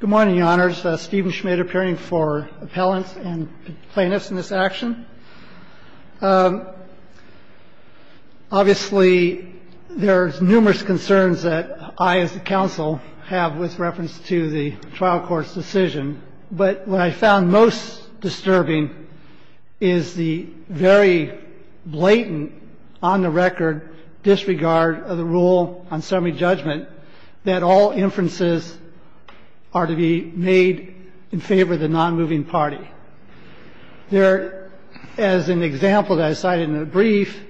Good morning, Your Honors. Stephen Schmid appearing for appellants and plaintiffs in this action. Obviously, there's numerous concerns that I as a counsel have with reference to the trial court's decision, but what I found most disturbing is the very blatant, on-the-record disregard of the rule on summary judgment that all inferences are to be made in favor of the non-moving party. There, as an example that I cited in a brief,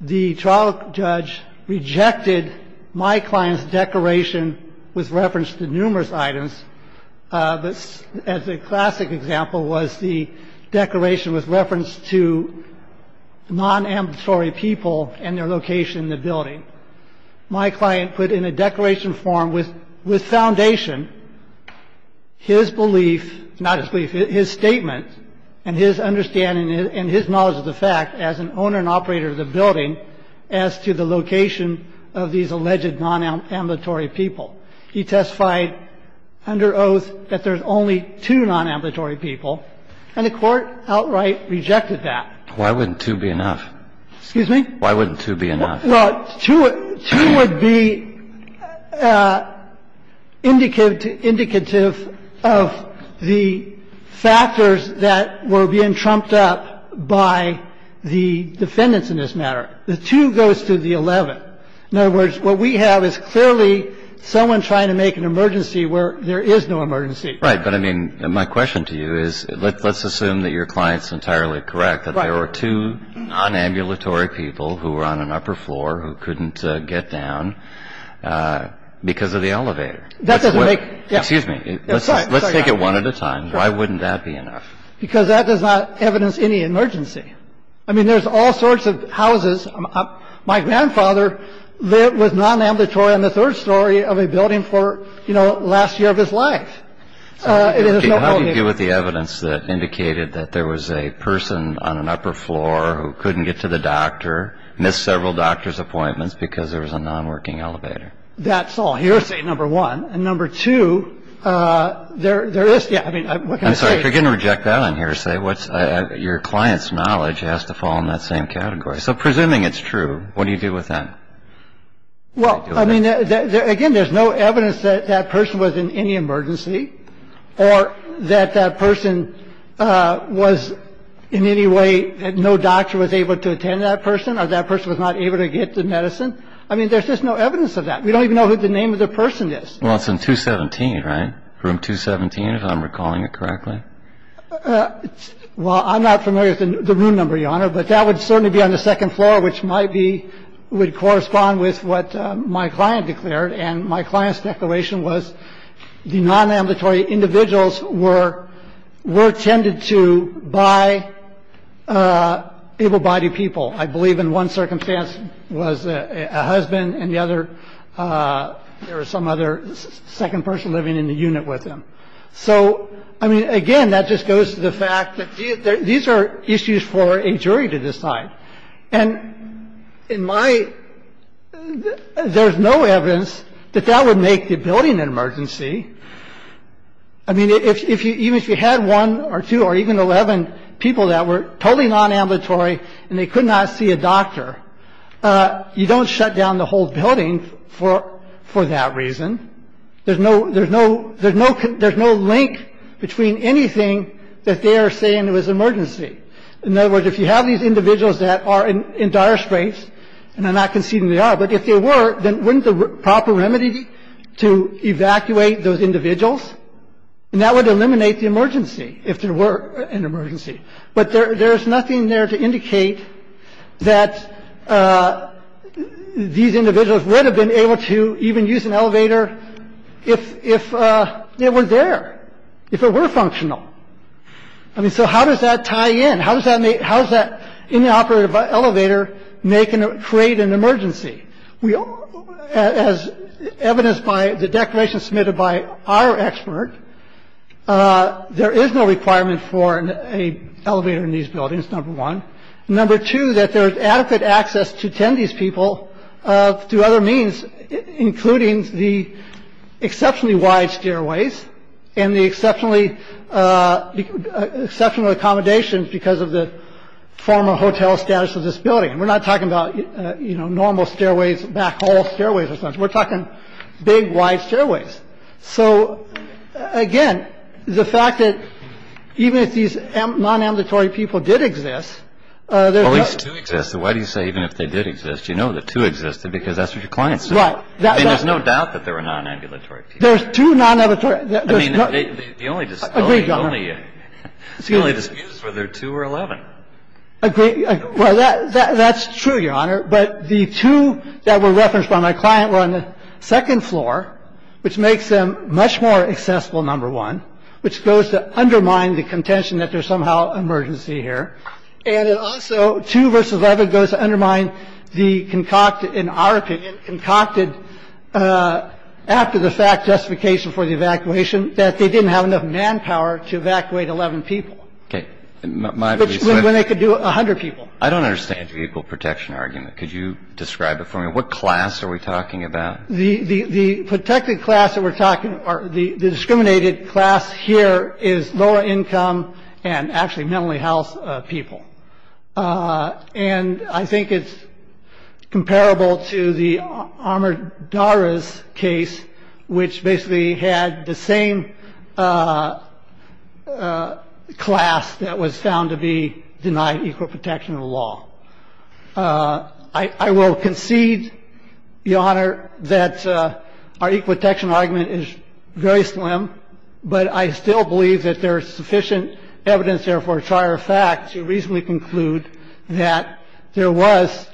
the trial judge rejected my client's declaration with reference to numerous items, but as a classic example was the declaration with reference to non-ambulatory people and their location in the building. My client put in a declaration form with foundation his belief, not his belief, his statement and his understanding and his knowledge of the fact as an owner and operator of the building as to the location of these alleged non-ambulatory people. He testified under oath that there's only two non-ambulatory people, and the Court outright rejected that. Why wouldn't two be enough? Why wouldn't two be enough? Well, two would be indicative of the factors that were being trumped up by the defendants in this matter. The two goes to the 11th. In other words, what we have is clearly someone trying to make an emergency where there is no emergency. Right. But, I mean, my question to you is, let's assume that your client's entirely correct, that there were two non-ambulatory people who were on an upper floor who couldn't get down because of the elevator. That doesn't make any sense. Excuse me. Let's take it one at a time. Why wouldn't that be enough? Because that does not evidence any emergency. I mean, there's all sorts of houses. My grandfather lived with non-ambulatory on the third story of a building for, you know, last year of his life. How do you deal with the evidence that indicated that there was a person on an upper floor who couldn't get to the doctor, missed several doctor's appointments because there was a non-working elevator? That's all hearsay, number one. And number two, there is. Yeah. I mean, what can I say? If you're going to reject that on hearsay, your client's knowledge has to fall in that same category. So presuming it's true, what do you do with that? Well, I mean, again, there's no evidence that that person was in any emergency or that that person was in any way that no doctor was able to attend that person or that person was not able to get the medicine. I mean, there's just no evidence of that. We don't even know who the name of the person is. Well, it's in 217, right? Room 217, if I'm recalling it correctly. I don't know. But that would certainly be on the second floor, which might be, would correspond with what my client declared. And my client's declaration was the non-ambulatory individuals were tended to by able-bodied people. I believe in one circumstance was a husband and the other, there was some other second person living in the unit with him. So, I mean, again, that just goes to the fact that these are issues for a jury to decide. And in my ‑‑ there's no evidence that that would make the building an emergency. I mean, even if you had one or two or even 11 people that were totally non-ambulatory and they could not see a doctor, you don't shut down the whole building for that reason. There's no ‑‑ there's no ‑‑ there's no link between anything that they are saying it was an emergency. In other words, if you have these individuals that are in dire straits, and I'm not conceding they are, but if they were, then wouldn't the proper remedy be to evacuate those individuals? And that would eliminate the emergency, if there were an emergency. But there's nothing there to indicate that these individuals would have been able to even use an elevator if it were there, if it were functional. I mean, so how does that tie in? How does that make ‑‑ how does that inoperative elevator make and create an emergency? As evidenced by the declaration submitted by our expert, there is no requirement for an elevator in these buildings, number one. Number two, that there is adequate access to attend these people through other means, including the exceptionally wide stairways and the exceptionally ‑‑ exceptional accommodations because of the former hotel status of this building. And we're not talking about, you know, normal stairways, back hall stairways or something. We're talking big, wide stairways. So, again, the fact that even if these non‑ambulatory people did exist, there's no ‑‑ Well, at least two existed. Why do you say even if they did exist? You know that two existed because that's what your client said. Right. I mean, there's no doubt that there were non‑ambulatory people. There's two non‑ambulatory ‑‑ I mean, the only dispute ‑‑ Agreed, Your Honor. The only dispute is whether two or 11. Agreed. Well, that's true, Your Honor, but the two that were referenced by my client were on the second floor, which makes them much more accessible, number one, which goes to undermine the contention that there's somehow an emergency here. And it also, two versus 11, goes to undermine the concocted, in our opinion, concocted after the fact justification for the evacuation, that they didn't have enough manpower to evacuate 11 people. Okay. When they could do 100 people. I don't understand your equal protection argument. Could you describe it for me? What class are we talking about? The protected class that we're talking about, the discriminated class here, is lower income and actually mentally ill people. And I think it's comparable to the armored DARA's case, which basically had the same class that was found to be denied equal protection of the law. I will concede, Your Honor, that our equal protection argument is very slim, but I still believe that there is sufficient evidence there for a trier fact to reasonably conclude that there was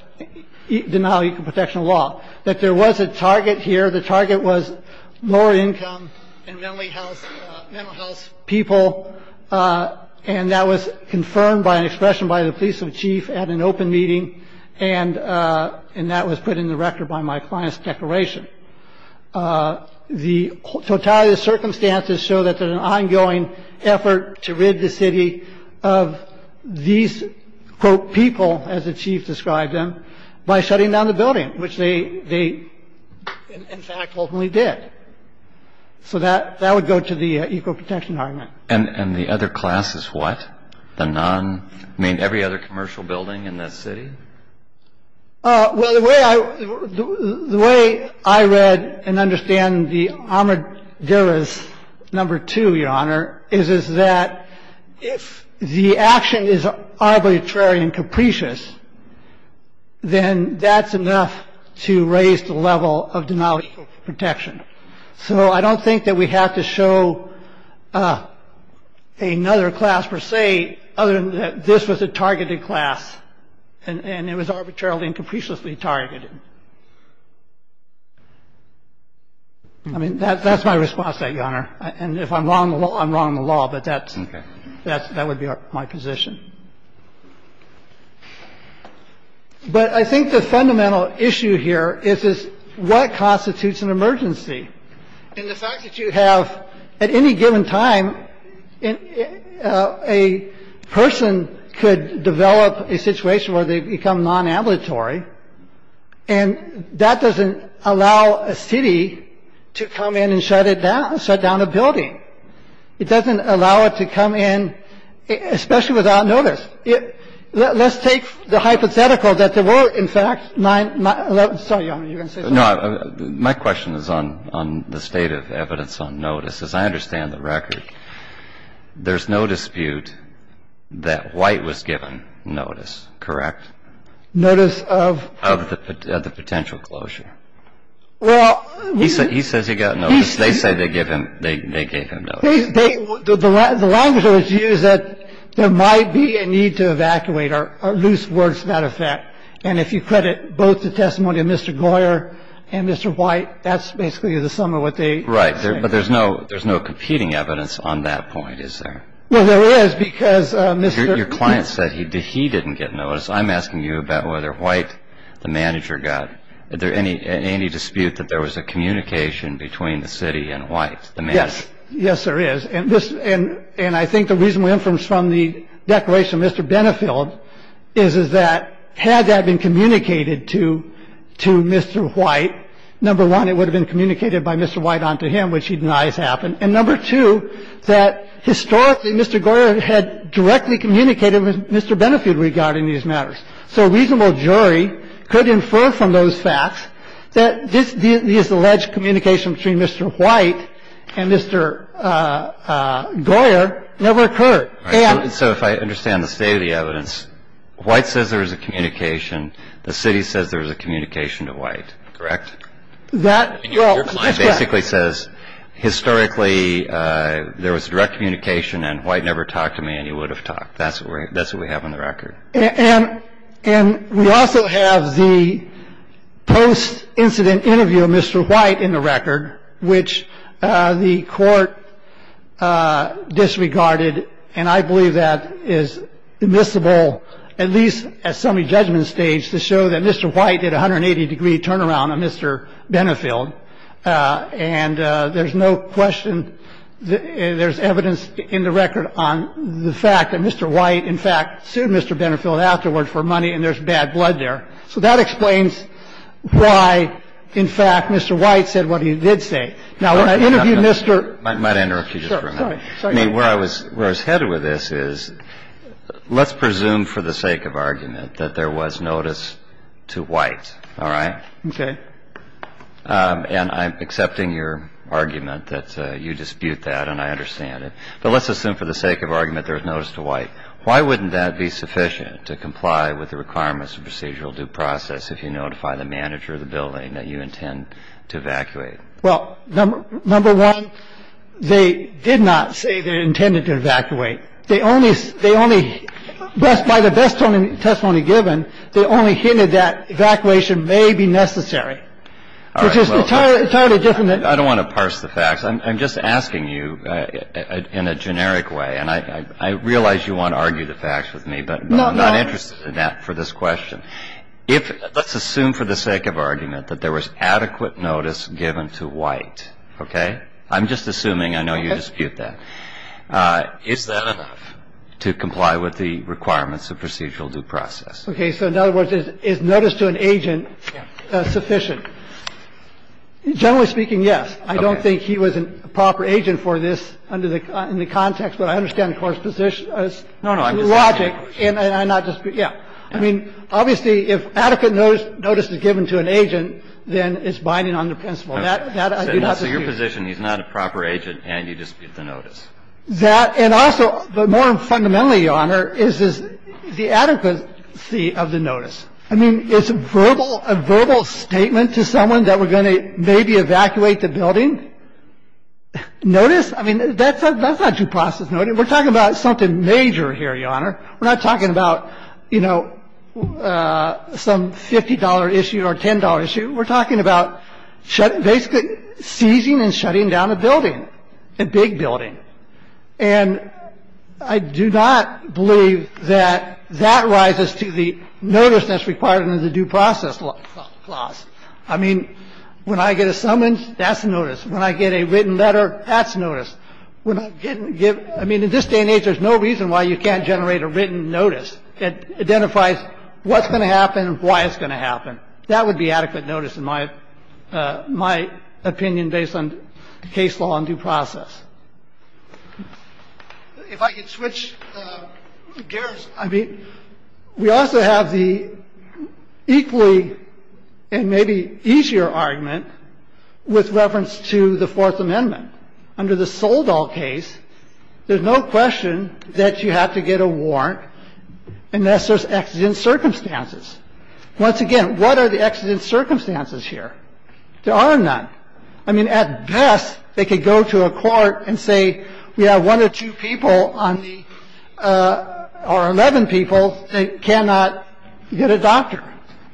denial of equal protection of the law, that there was a target here. The target was lower income and mentally ill people. And that was confirmed by an expression by the police chief at an open meeting. And that was put in the record by my client's declaration. The totality of the circumstances show that there's an ongoing effort to rid the city of these, quote, people, as the chief described them, by shutting down the building, which they, in fact, ultimately did. So that would go to the equal protection argument. And the other class is what? The non, I mean, every other commercial building in this city? Well, the way I read and understand the armored DARA's number two, Your Honor, is that if the action is arbitrary and capricious, then that's enough to raise the level of denial of equal protection. So I don't think that we have to show another class per se, other than that this was a targeted class and it was arbitrarily and capriciously targeted. I mean, that's my response to that, Your Honor. And if I'm wrong, I'm wrong in the law. But that's, that would be my position. But I think the fundamental issue here is what constitutes an emergency? And the fact that you have, at any given time, a person could develop a situation where they become non-ambulatory, and that doesn't allow a city to come in and shut it down, shut down a building. It doesn't allow it to come in, especially without notice. Let's take the hypothetical that there were, in fact, nine, 11, sorry, Your Honor, you were going to say something? No. My question is on the state of evidence on notice. As I understand the record, there's no dispute that White was given notice, correct? Notice of? Of the potential closure. Well, we. He says he got notice. They say they gave him, they gave him notice. They, the language that was used, that there might be a need to evacuate are loose words, matter of fact. And if you credit both the testimony of Mr. Goyer and Mr. White, that's basically the sum of what they say. Right. But there's no competing evidence on that point, is there? Well, there is, because Mr. Your client said he didn't get notice. I'm asking you about whether White, the manager, got. Is there any dispute that there was a communication between the city and White, the manager? Yes. Yes, there is. And I think the reasonable inference from the declaration of Mr. Benefield is, is that had that been communicated to Mr. White, number one, it would have been communicated by Mr. White onto him, which he denies happened. And number two, that historically Mr. Goyer had directly communicated with Mr. Benefield regarding these matters. So a reasonable jury could infer from those facts that this alleged communication between Mr. White and Mr. Goyer never occurred. So if I understand the state of the evidence, White says there is a communication. The city says there is a communication to White, correct? That, well, that's correct. Your client basically says historically there was direct communication and White never talked to me and he would have talked. That's what we have on the record. And we also have the post-incident interview of Mr. White in the record, which the court disregarded. And I believe that is admissible, at least at summary judgment stage, to show that Mr. White did a 180-degree turnaround on Mr. Benefield. And there's no question there's evidence in the record on the fact that Mr. Benefield did a 180-degree turnaround on Mr. Benefield did a 180-degree turnaround on Mr. Benefield afterwards for money and there's bad blood there. So that explains why, in fact, Mr. White said what he did say. Now, when I interviewed Mr. Kennedy. I mean, where I was headed with this is let's presume for the sake of argument that there was notice to White. All right? Okay. And I'm accepting your argument that you dispute that and I understand it. But let's assume for the sake of argument there was notice to White. Why wouldn't that be sufficient to comply with the requirements of procedural due process if you notify the manager of the building that you intend to evacuate? Well, number one, they did not say they intended to evacuate. They only by the best testimony given, they only hinted that evacuation may be necessary. It's just entirely different. I don't want to parse the facts. I'm just asking you in a generic way. And I realize you want to argue the facts with me, but I'm not interested in that for this question. I'm not interested in that for this question. If let's assume for the sake of argument that there was adequate notice given to White. Okay? I'm just assuming. I know you dispute that. Is that enough to comply with the requirements of procedural due process? Okay. So in other words, is notice to an agent sufficient? Generally speaking, yes. I don't think he was a proper agent for this under the context. But I understand the court's logic. No, no. I'm just asking you a question. And I'm not disputing. Yeah. I mean, obviously, if adequate notice is given to an agent, then it's binding on the principle. That I do not dispute. So your position, he's not a proper agent, and you dispute the notice. That and also, but more fundamentally, Your Honor, is the adequacy of the notice. Notice? I mean, that's not due process notice. We're talking about something major here, Your Honor. We're not talking about, you know, some $50 issue or $10 issue. We're talking about basically seizing and shutting down a building, a big building. And I do not believe that that rises to the notice that's required under the due process clause. I mean, when I get a summons, that's a notice. When I get a written letter, that's notice. I mean, in this day and age, there's no reason why you can't generate a written notice. It identifies what's going to happen and why it's going to happen. That would be adequate notice, in my opinion, based on case law and due process. If I could switch gears. I mean, we also have the equally and maybe easier argument with reference to the Fourth Amendment. Under the Soldall case, there's no question that you have to get a warrant unless there's exigent circumstances. Once again, what are the exigent circumstances here? There are none. I mean, at best, they could go to a court and say we have one or two people on the or 11 people that cannot get a doctor.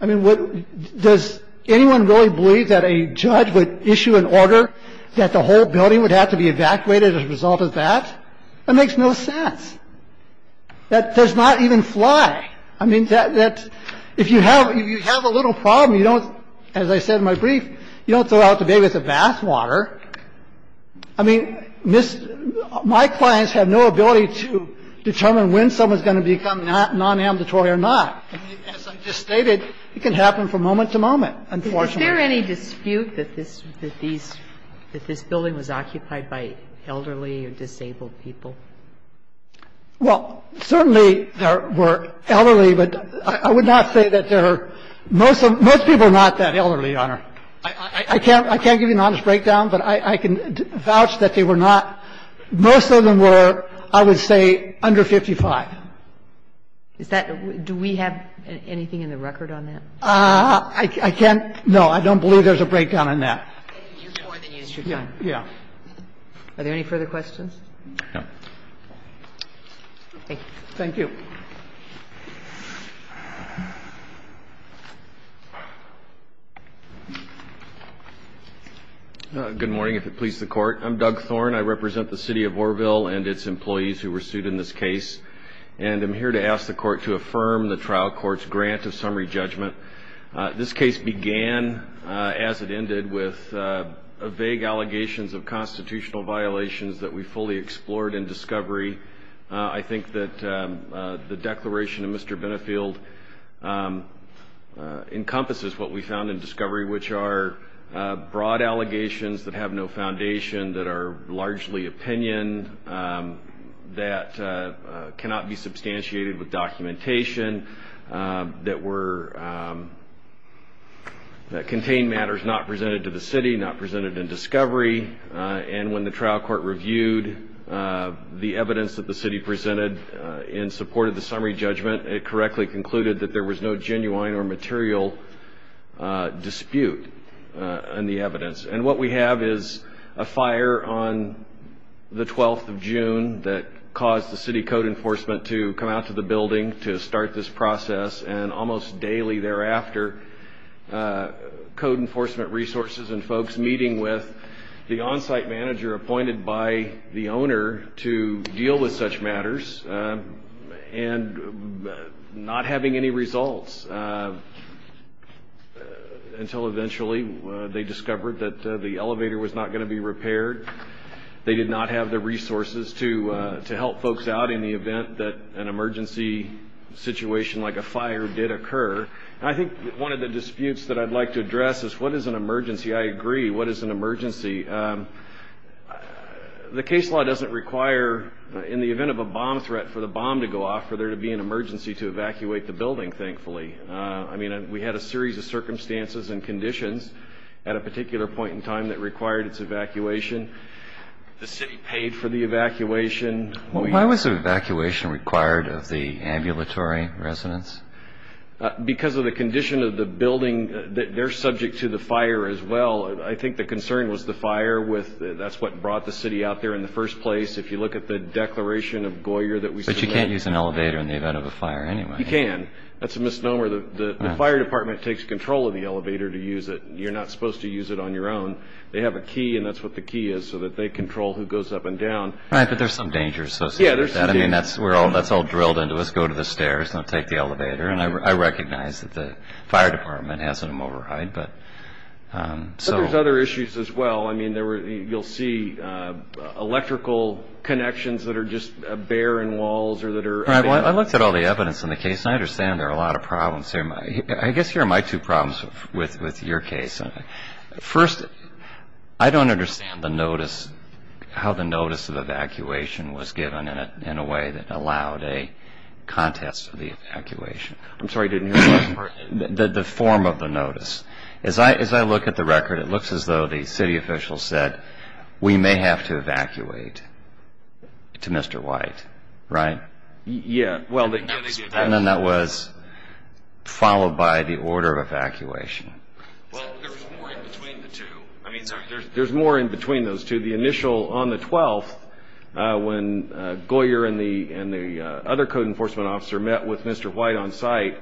I mean, does anyone really believe that a judge would issue an order that the whole building would have to be evacuated as a result of that? That makes no sense. That does not even fly. I mean, that if you have a little problem, you don't, as I said in my brief, you don't go out to bay with a bathwater. I mean, my clients have no ability to determine when someone's going to become non-ambitory or not. As I just stated, it can happen from moment to moment, unfortunately. Is there any dispute that this building was occupied by elderly or disabled people? Well, certainly there were elderly, but I would not say that there are most people are not that elderly, Your Honor. I can't give you an honest breakdown, but I can vouch that they were not. Most of them were, I would say, under 55. Is that do we have anything in the record on that? I can't. No, I don't believe there's a breakdown on that. You used more than you used your time. Yeah. Are there any further questions? No. Thank you. Good morning, if it pleases the Court. I'm Doug Thorne. I represent the city of Oroville and its employees who were sued in this case, and I'm here to ask the Court to affirm the trial court's grant of summary judgment. This case began, as it ended, with vague allegations of constitutional violations. The declaration of Mr. Benefield encompasses what we found in discovery, which are broad allegations that have no foundation, that are largely opinion, that cannot be substantiated with documentation, that contain matters not presented to the city, not presented in discovery, and when the trial court reviewed the evidence that the city presented in support of the summary judgment, it correctly concluded that there was no genuine or material dispute in the evidence. And what we have is a fire on the 12th of June that caused the city code enforcement to come out to the building to start this process, and almost daily thereafter, code enforcement resources and folks meeting with the owner to deal with such matters and not having any results until eventually they discovered that the elevator was not going to be repaired. They did not have the resources to help folks out in the event that an emergency situation like a fire did occur. I think one of the disputes that I'd like to address is what is an emergency? I agree. What is an emergency? The case law doesn't require, in the event of a bomb threat, for the bomb to go off for there to be an emergency to evacuate the building, thankfully. I mean, we had a series of circumstances and conditions at a particular point in time that required its evacuation. The city paid for the evacuation. Why was evacuation required of the ambulatory residents? Because of the condition of the building, they're subject to the fire as well. Well, I think the concern was the fire. That's what brought the city out there in the first place. If you look at the declaration of Goyer that we submitted. But you can't use an elevator in the event of a fire anyway. You can. That's a misnomer. The fire department takes control of the elevator to use it. You're not supposed to use it on your own. They have a key, and that's what the key is, so that they control who goes up and down. Right, but there's some danger associated with that. Yeah, there's some danger. I mean, that's all drilled into us. Go to the stairs. Don't take the elevator. I recognize that the fire department has some overhide. But there's other issues as well. I mean, you'll see electrical connections that are just bare in walls. Right, well, I looked at all the evidence in the case, and I understand there are a lot of problems there. I guess here are my two problems with your case. First, I don't understand how the notice of evacuation was given in a way that allowed a contest of the evacuation. I'm sorry, I didn't hear the last part. The form of the notice. As I look at the record, it looks as though the city official said, we may have to evacuate to Mr. White, right? Yeah. And then that was followed by the order of evacuation. Well, there's more in between the two. I mean, there's more in between those two. On the 12th, when Goyer and the other code enforcement officer met with Mr. White on site,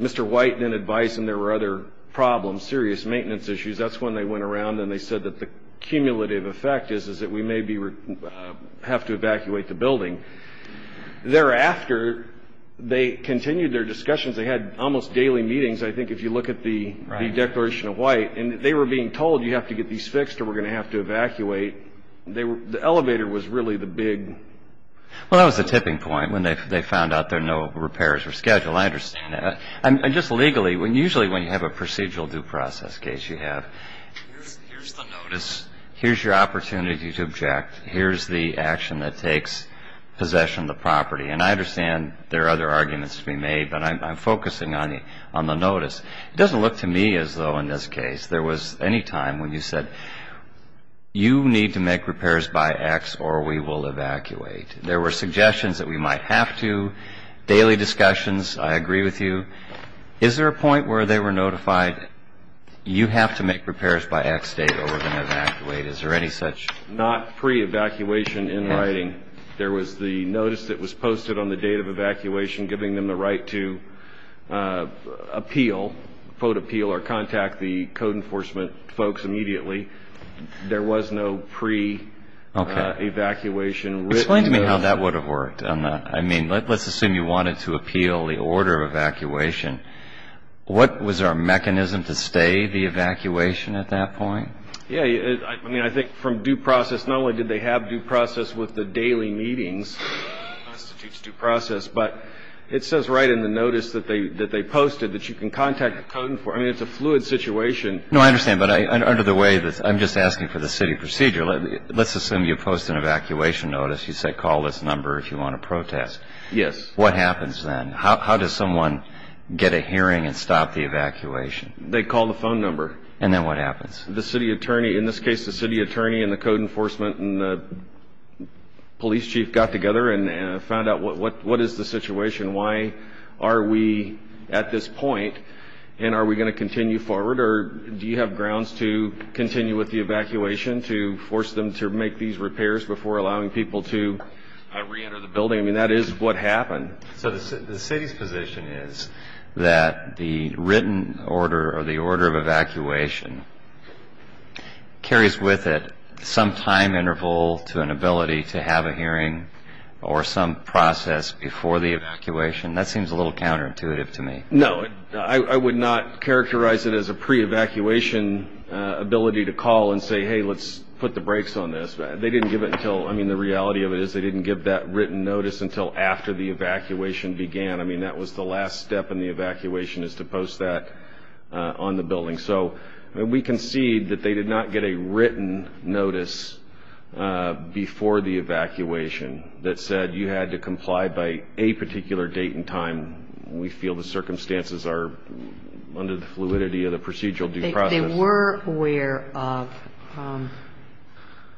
Mr. White then advised them there were other problems, serious maintenance issues. That's when they went around and they said that the cumulative effect is that we may have to evacuate the building. Thereafter, they continued their discussions. They had almost daily meetings, I think, if you look at the declaration of White. And they were being told, you have to get these fixed or we're going to have to evacuate. The elevator was really the big... Well, that was the tipping point when they found out there were no repairs were scheduled. I understand that. And just legally, usually when you have a procedural due process case, you have, here's the notice, here's your opportunity to object, here's the action that takes possession of the property. And I understand there are other arguments to be made, but I'm focusing on the notice. It doesn't look to me as though, in this case, there was any time when you said, you need to make repairs by X or we will evacuate. There were suggestions that we might have to. Daily discussions, I agree with you. Is there a point where they were notified, you have to make repairs by X date or we're going to evacuate? Is there any such... Not pre-evacuation in writing. There was the notice that was posted on the date of evacuation giving them the right to appeal, vote appeal or contact the code enforcement folks immediately. There was no pre-evacuation written. Explain to me how that would have worked. I mean, let's assume you wanted to appeal the order of evacuation. What was our mechanism to stay the evacuation at that point? Yeah, I mean, I think from due process, not only did they have due process with the daily meetings, constitutes due process, but it says right in the notice that they posted that you can contact the code enforcement. I mean, it's a fluid situation. No, I understand, but under the way, I'm just asking for the city procedure. Let's assume you post an evacuation notice. You say, call this number if you want to protest. Yes. What happens then? How does someone get a hearing and stop the evacuation? They call the phone number. And then what happens? The city attorney, in this case, the city attorney and the code enforcement and the police chief got together and found out what is the situation. Why are we at this point and are we going to continue forward or do you have grounds to continue with the evacuation to force them to make these repairs before allowing people to reenter the building? I mean, that is what happened. So the city's position is that the written order or the order of evacuation carries with it some time interval to an ability to have a hearing or some process before the evacuation. That seems a little counterintuitive to me. No, I would not characterize it as a pre-evacuation ability to call and say, hey, let's put the brakes on this. They didn't give it until, I mean, the reality of it is they didn't give that written notice until after the evacuation began. I mean, that was the last step in the evacuation is to post that on the building. So we concede that they did not get a written notice before the evacuation that said you had to comply by a particular date and time. We feel the circumstances are under the fluidity of the procedural due process. They were aware of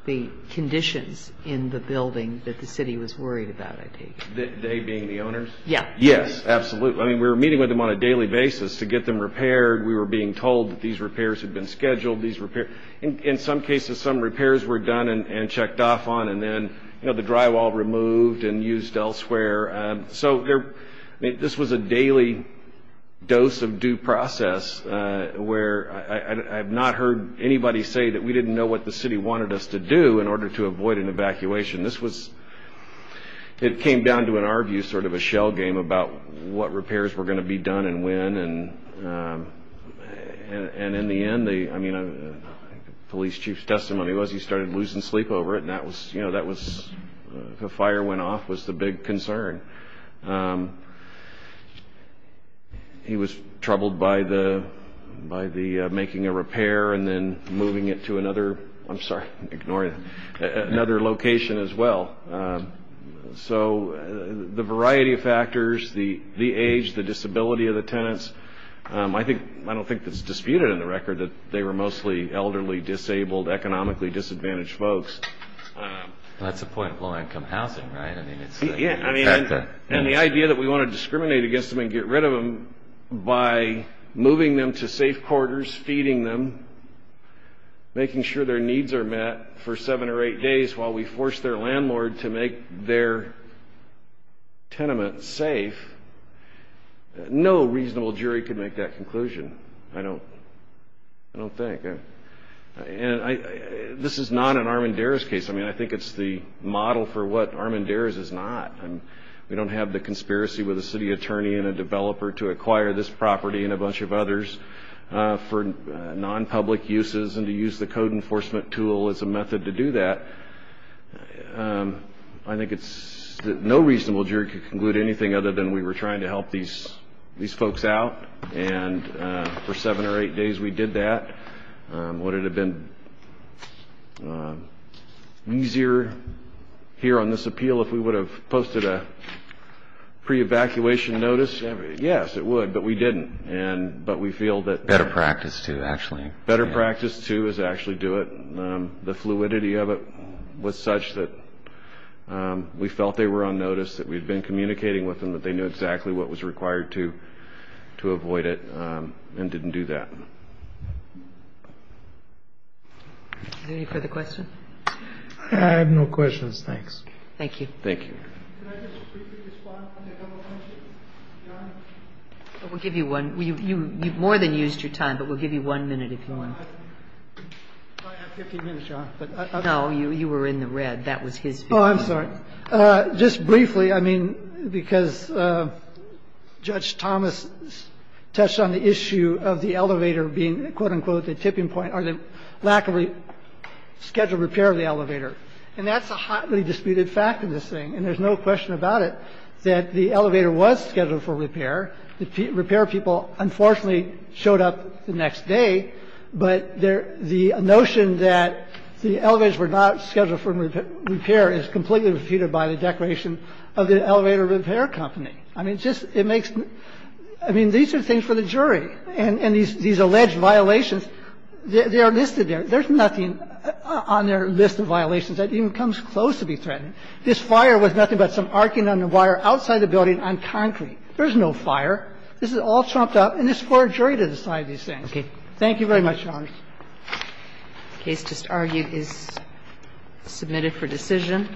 the conditions in the building that the city was worried about, I take it. They being the owners? Yes. Yes, absolutely. I mean, we were meeting with them on a daily basis to get them repaired. We were being told that these repairs had been scheduled. In some cases, some repairs were done and checked off on, and then the drywall removed and used elsewhere. So this was a daily dose of due process where I have not heard anybody say that we didn't know what the city wanted us to do in order to avoid an evacuation. It came down to, in our view, sort of a shell game about what repairs were going to be done and when. In the end, the police chief's testimony was he started losing sleep over it. The fire went off was the big concern. He was troubled by making a repair and then moving it to another location as well. So the variety of factors, the age, the disability of the tenants, I don't think it's disputed in the record that they were mostly elderly, disabled, economically disadvantaged folks. That's a point of low-income housing, right? Yeah. And the idea that we want to discriminate against them and get rid of them by moving them to safe quarters, feeding them, making sure their needs are met for seven or eight days while we force their landlord to make their tenement safe, no reasonable jury could make that conclusion, I don't think. And this is not an Armendariz case. I mean, I think it's the model for what Armendariz is not. We don't have the conspiracy with a city attorney and a developer to acquire this property and a bunch of others for non-public uses and to use the code enforcement tool as a method to do that. I think no reasonable jury could conclude anything other than we were trying to help these folks out and for seven or eight days we did that. Would it have been easier here on this appeal if we would have posted a pre-evacuation notice? Yes, it would, but we didn't. But we feel that... Better practice, too, actually. The fluidity of it was such that we felt they were on notice, that we'd been communicating with them, that they knew exactly what was required to avoid it and didn't do that. Is there any further questions? I have no questions, thanks. Thank you. Thank you. Can I just briefly respond to a couple of questions? We'll give you one. You've more than used your time, but we'll give you one minute if you want. I have 15 minutes, Your Honor. No, you were in the red. That was his view. Oh, I'm sorry. Just briefly, I mean, because Judge Thomas touched on the issue of the elevator being, quote, unquote, the tipping point or the lack of scheduled repair of the elevator. And that's a hotly disputed fact in this thing. And there's no question about it that the elevator was scheduled for repair. The repair people, unfortunately, showed up the next day. But the notion that the elevators were not scheduled for repair is completely refuted by the declaration of the elevator repair company. I mean, it just – it makes – I mean, these are things for the jury. And these alleged violations, they are listed there. There's nothing on their list of violations that even comes close to be threatened. This fire was nothing but some arcing on the wire outside the building on concrete. There's no fire. This is all trumped up, and it's for a jury to decide these things. Thank you very much, Your Honor. The case just argued is submitted for decision.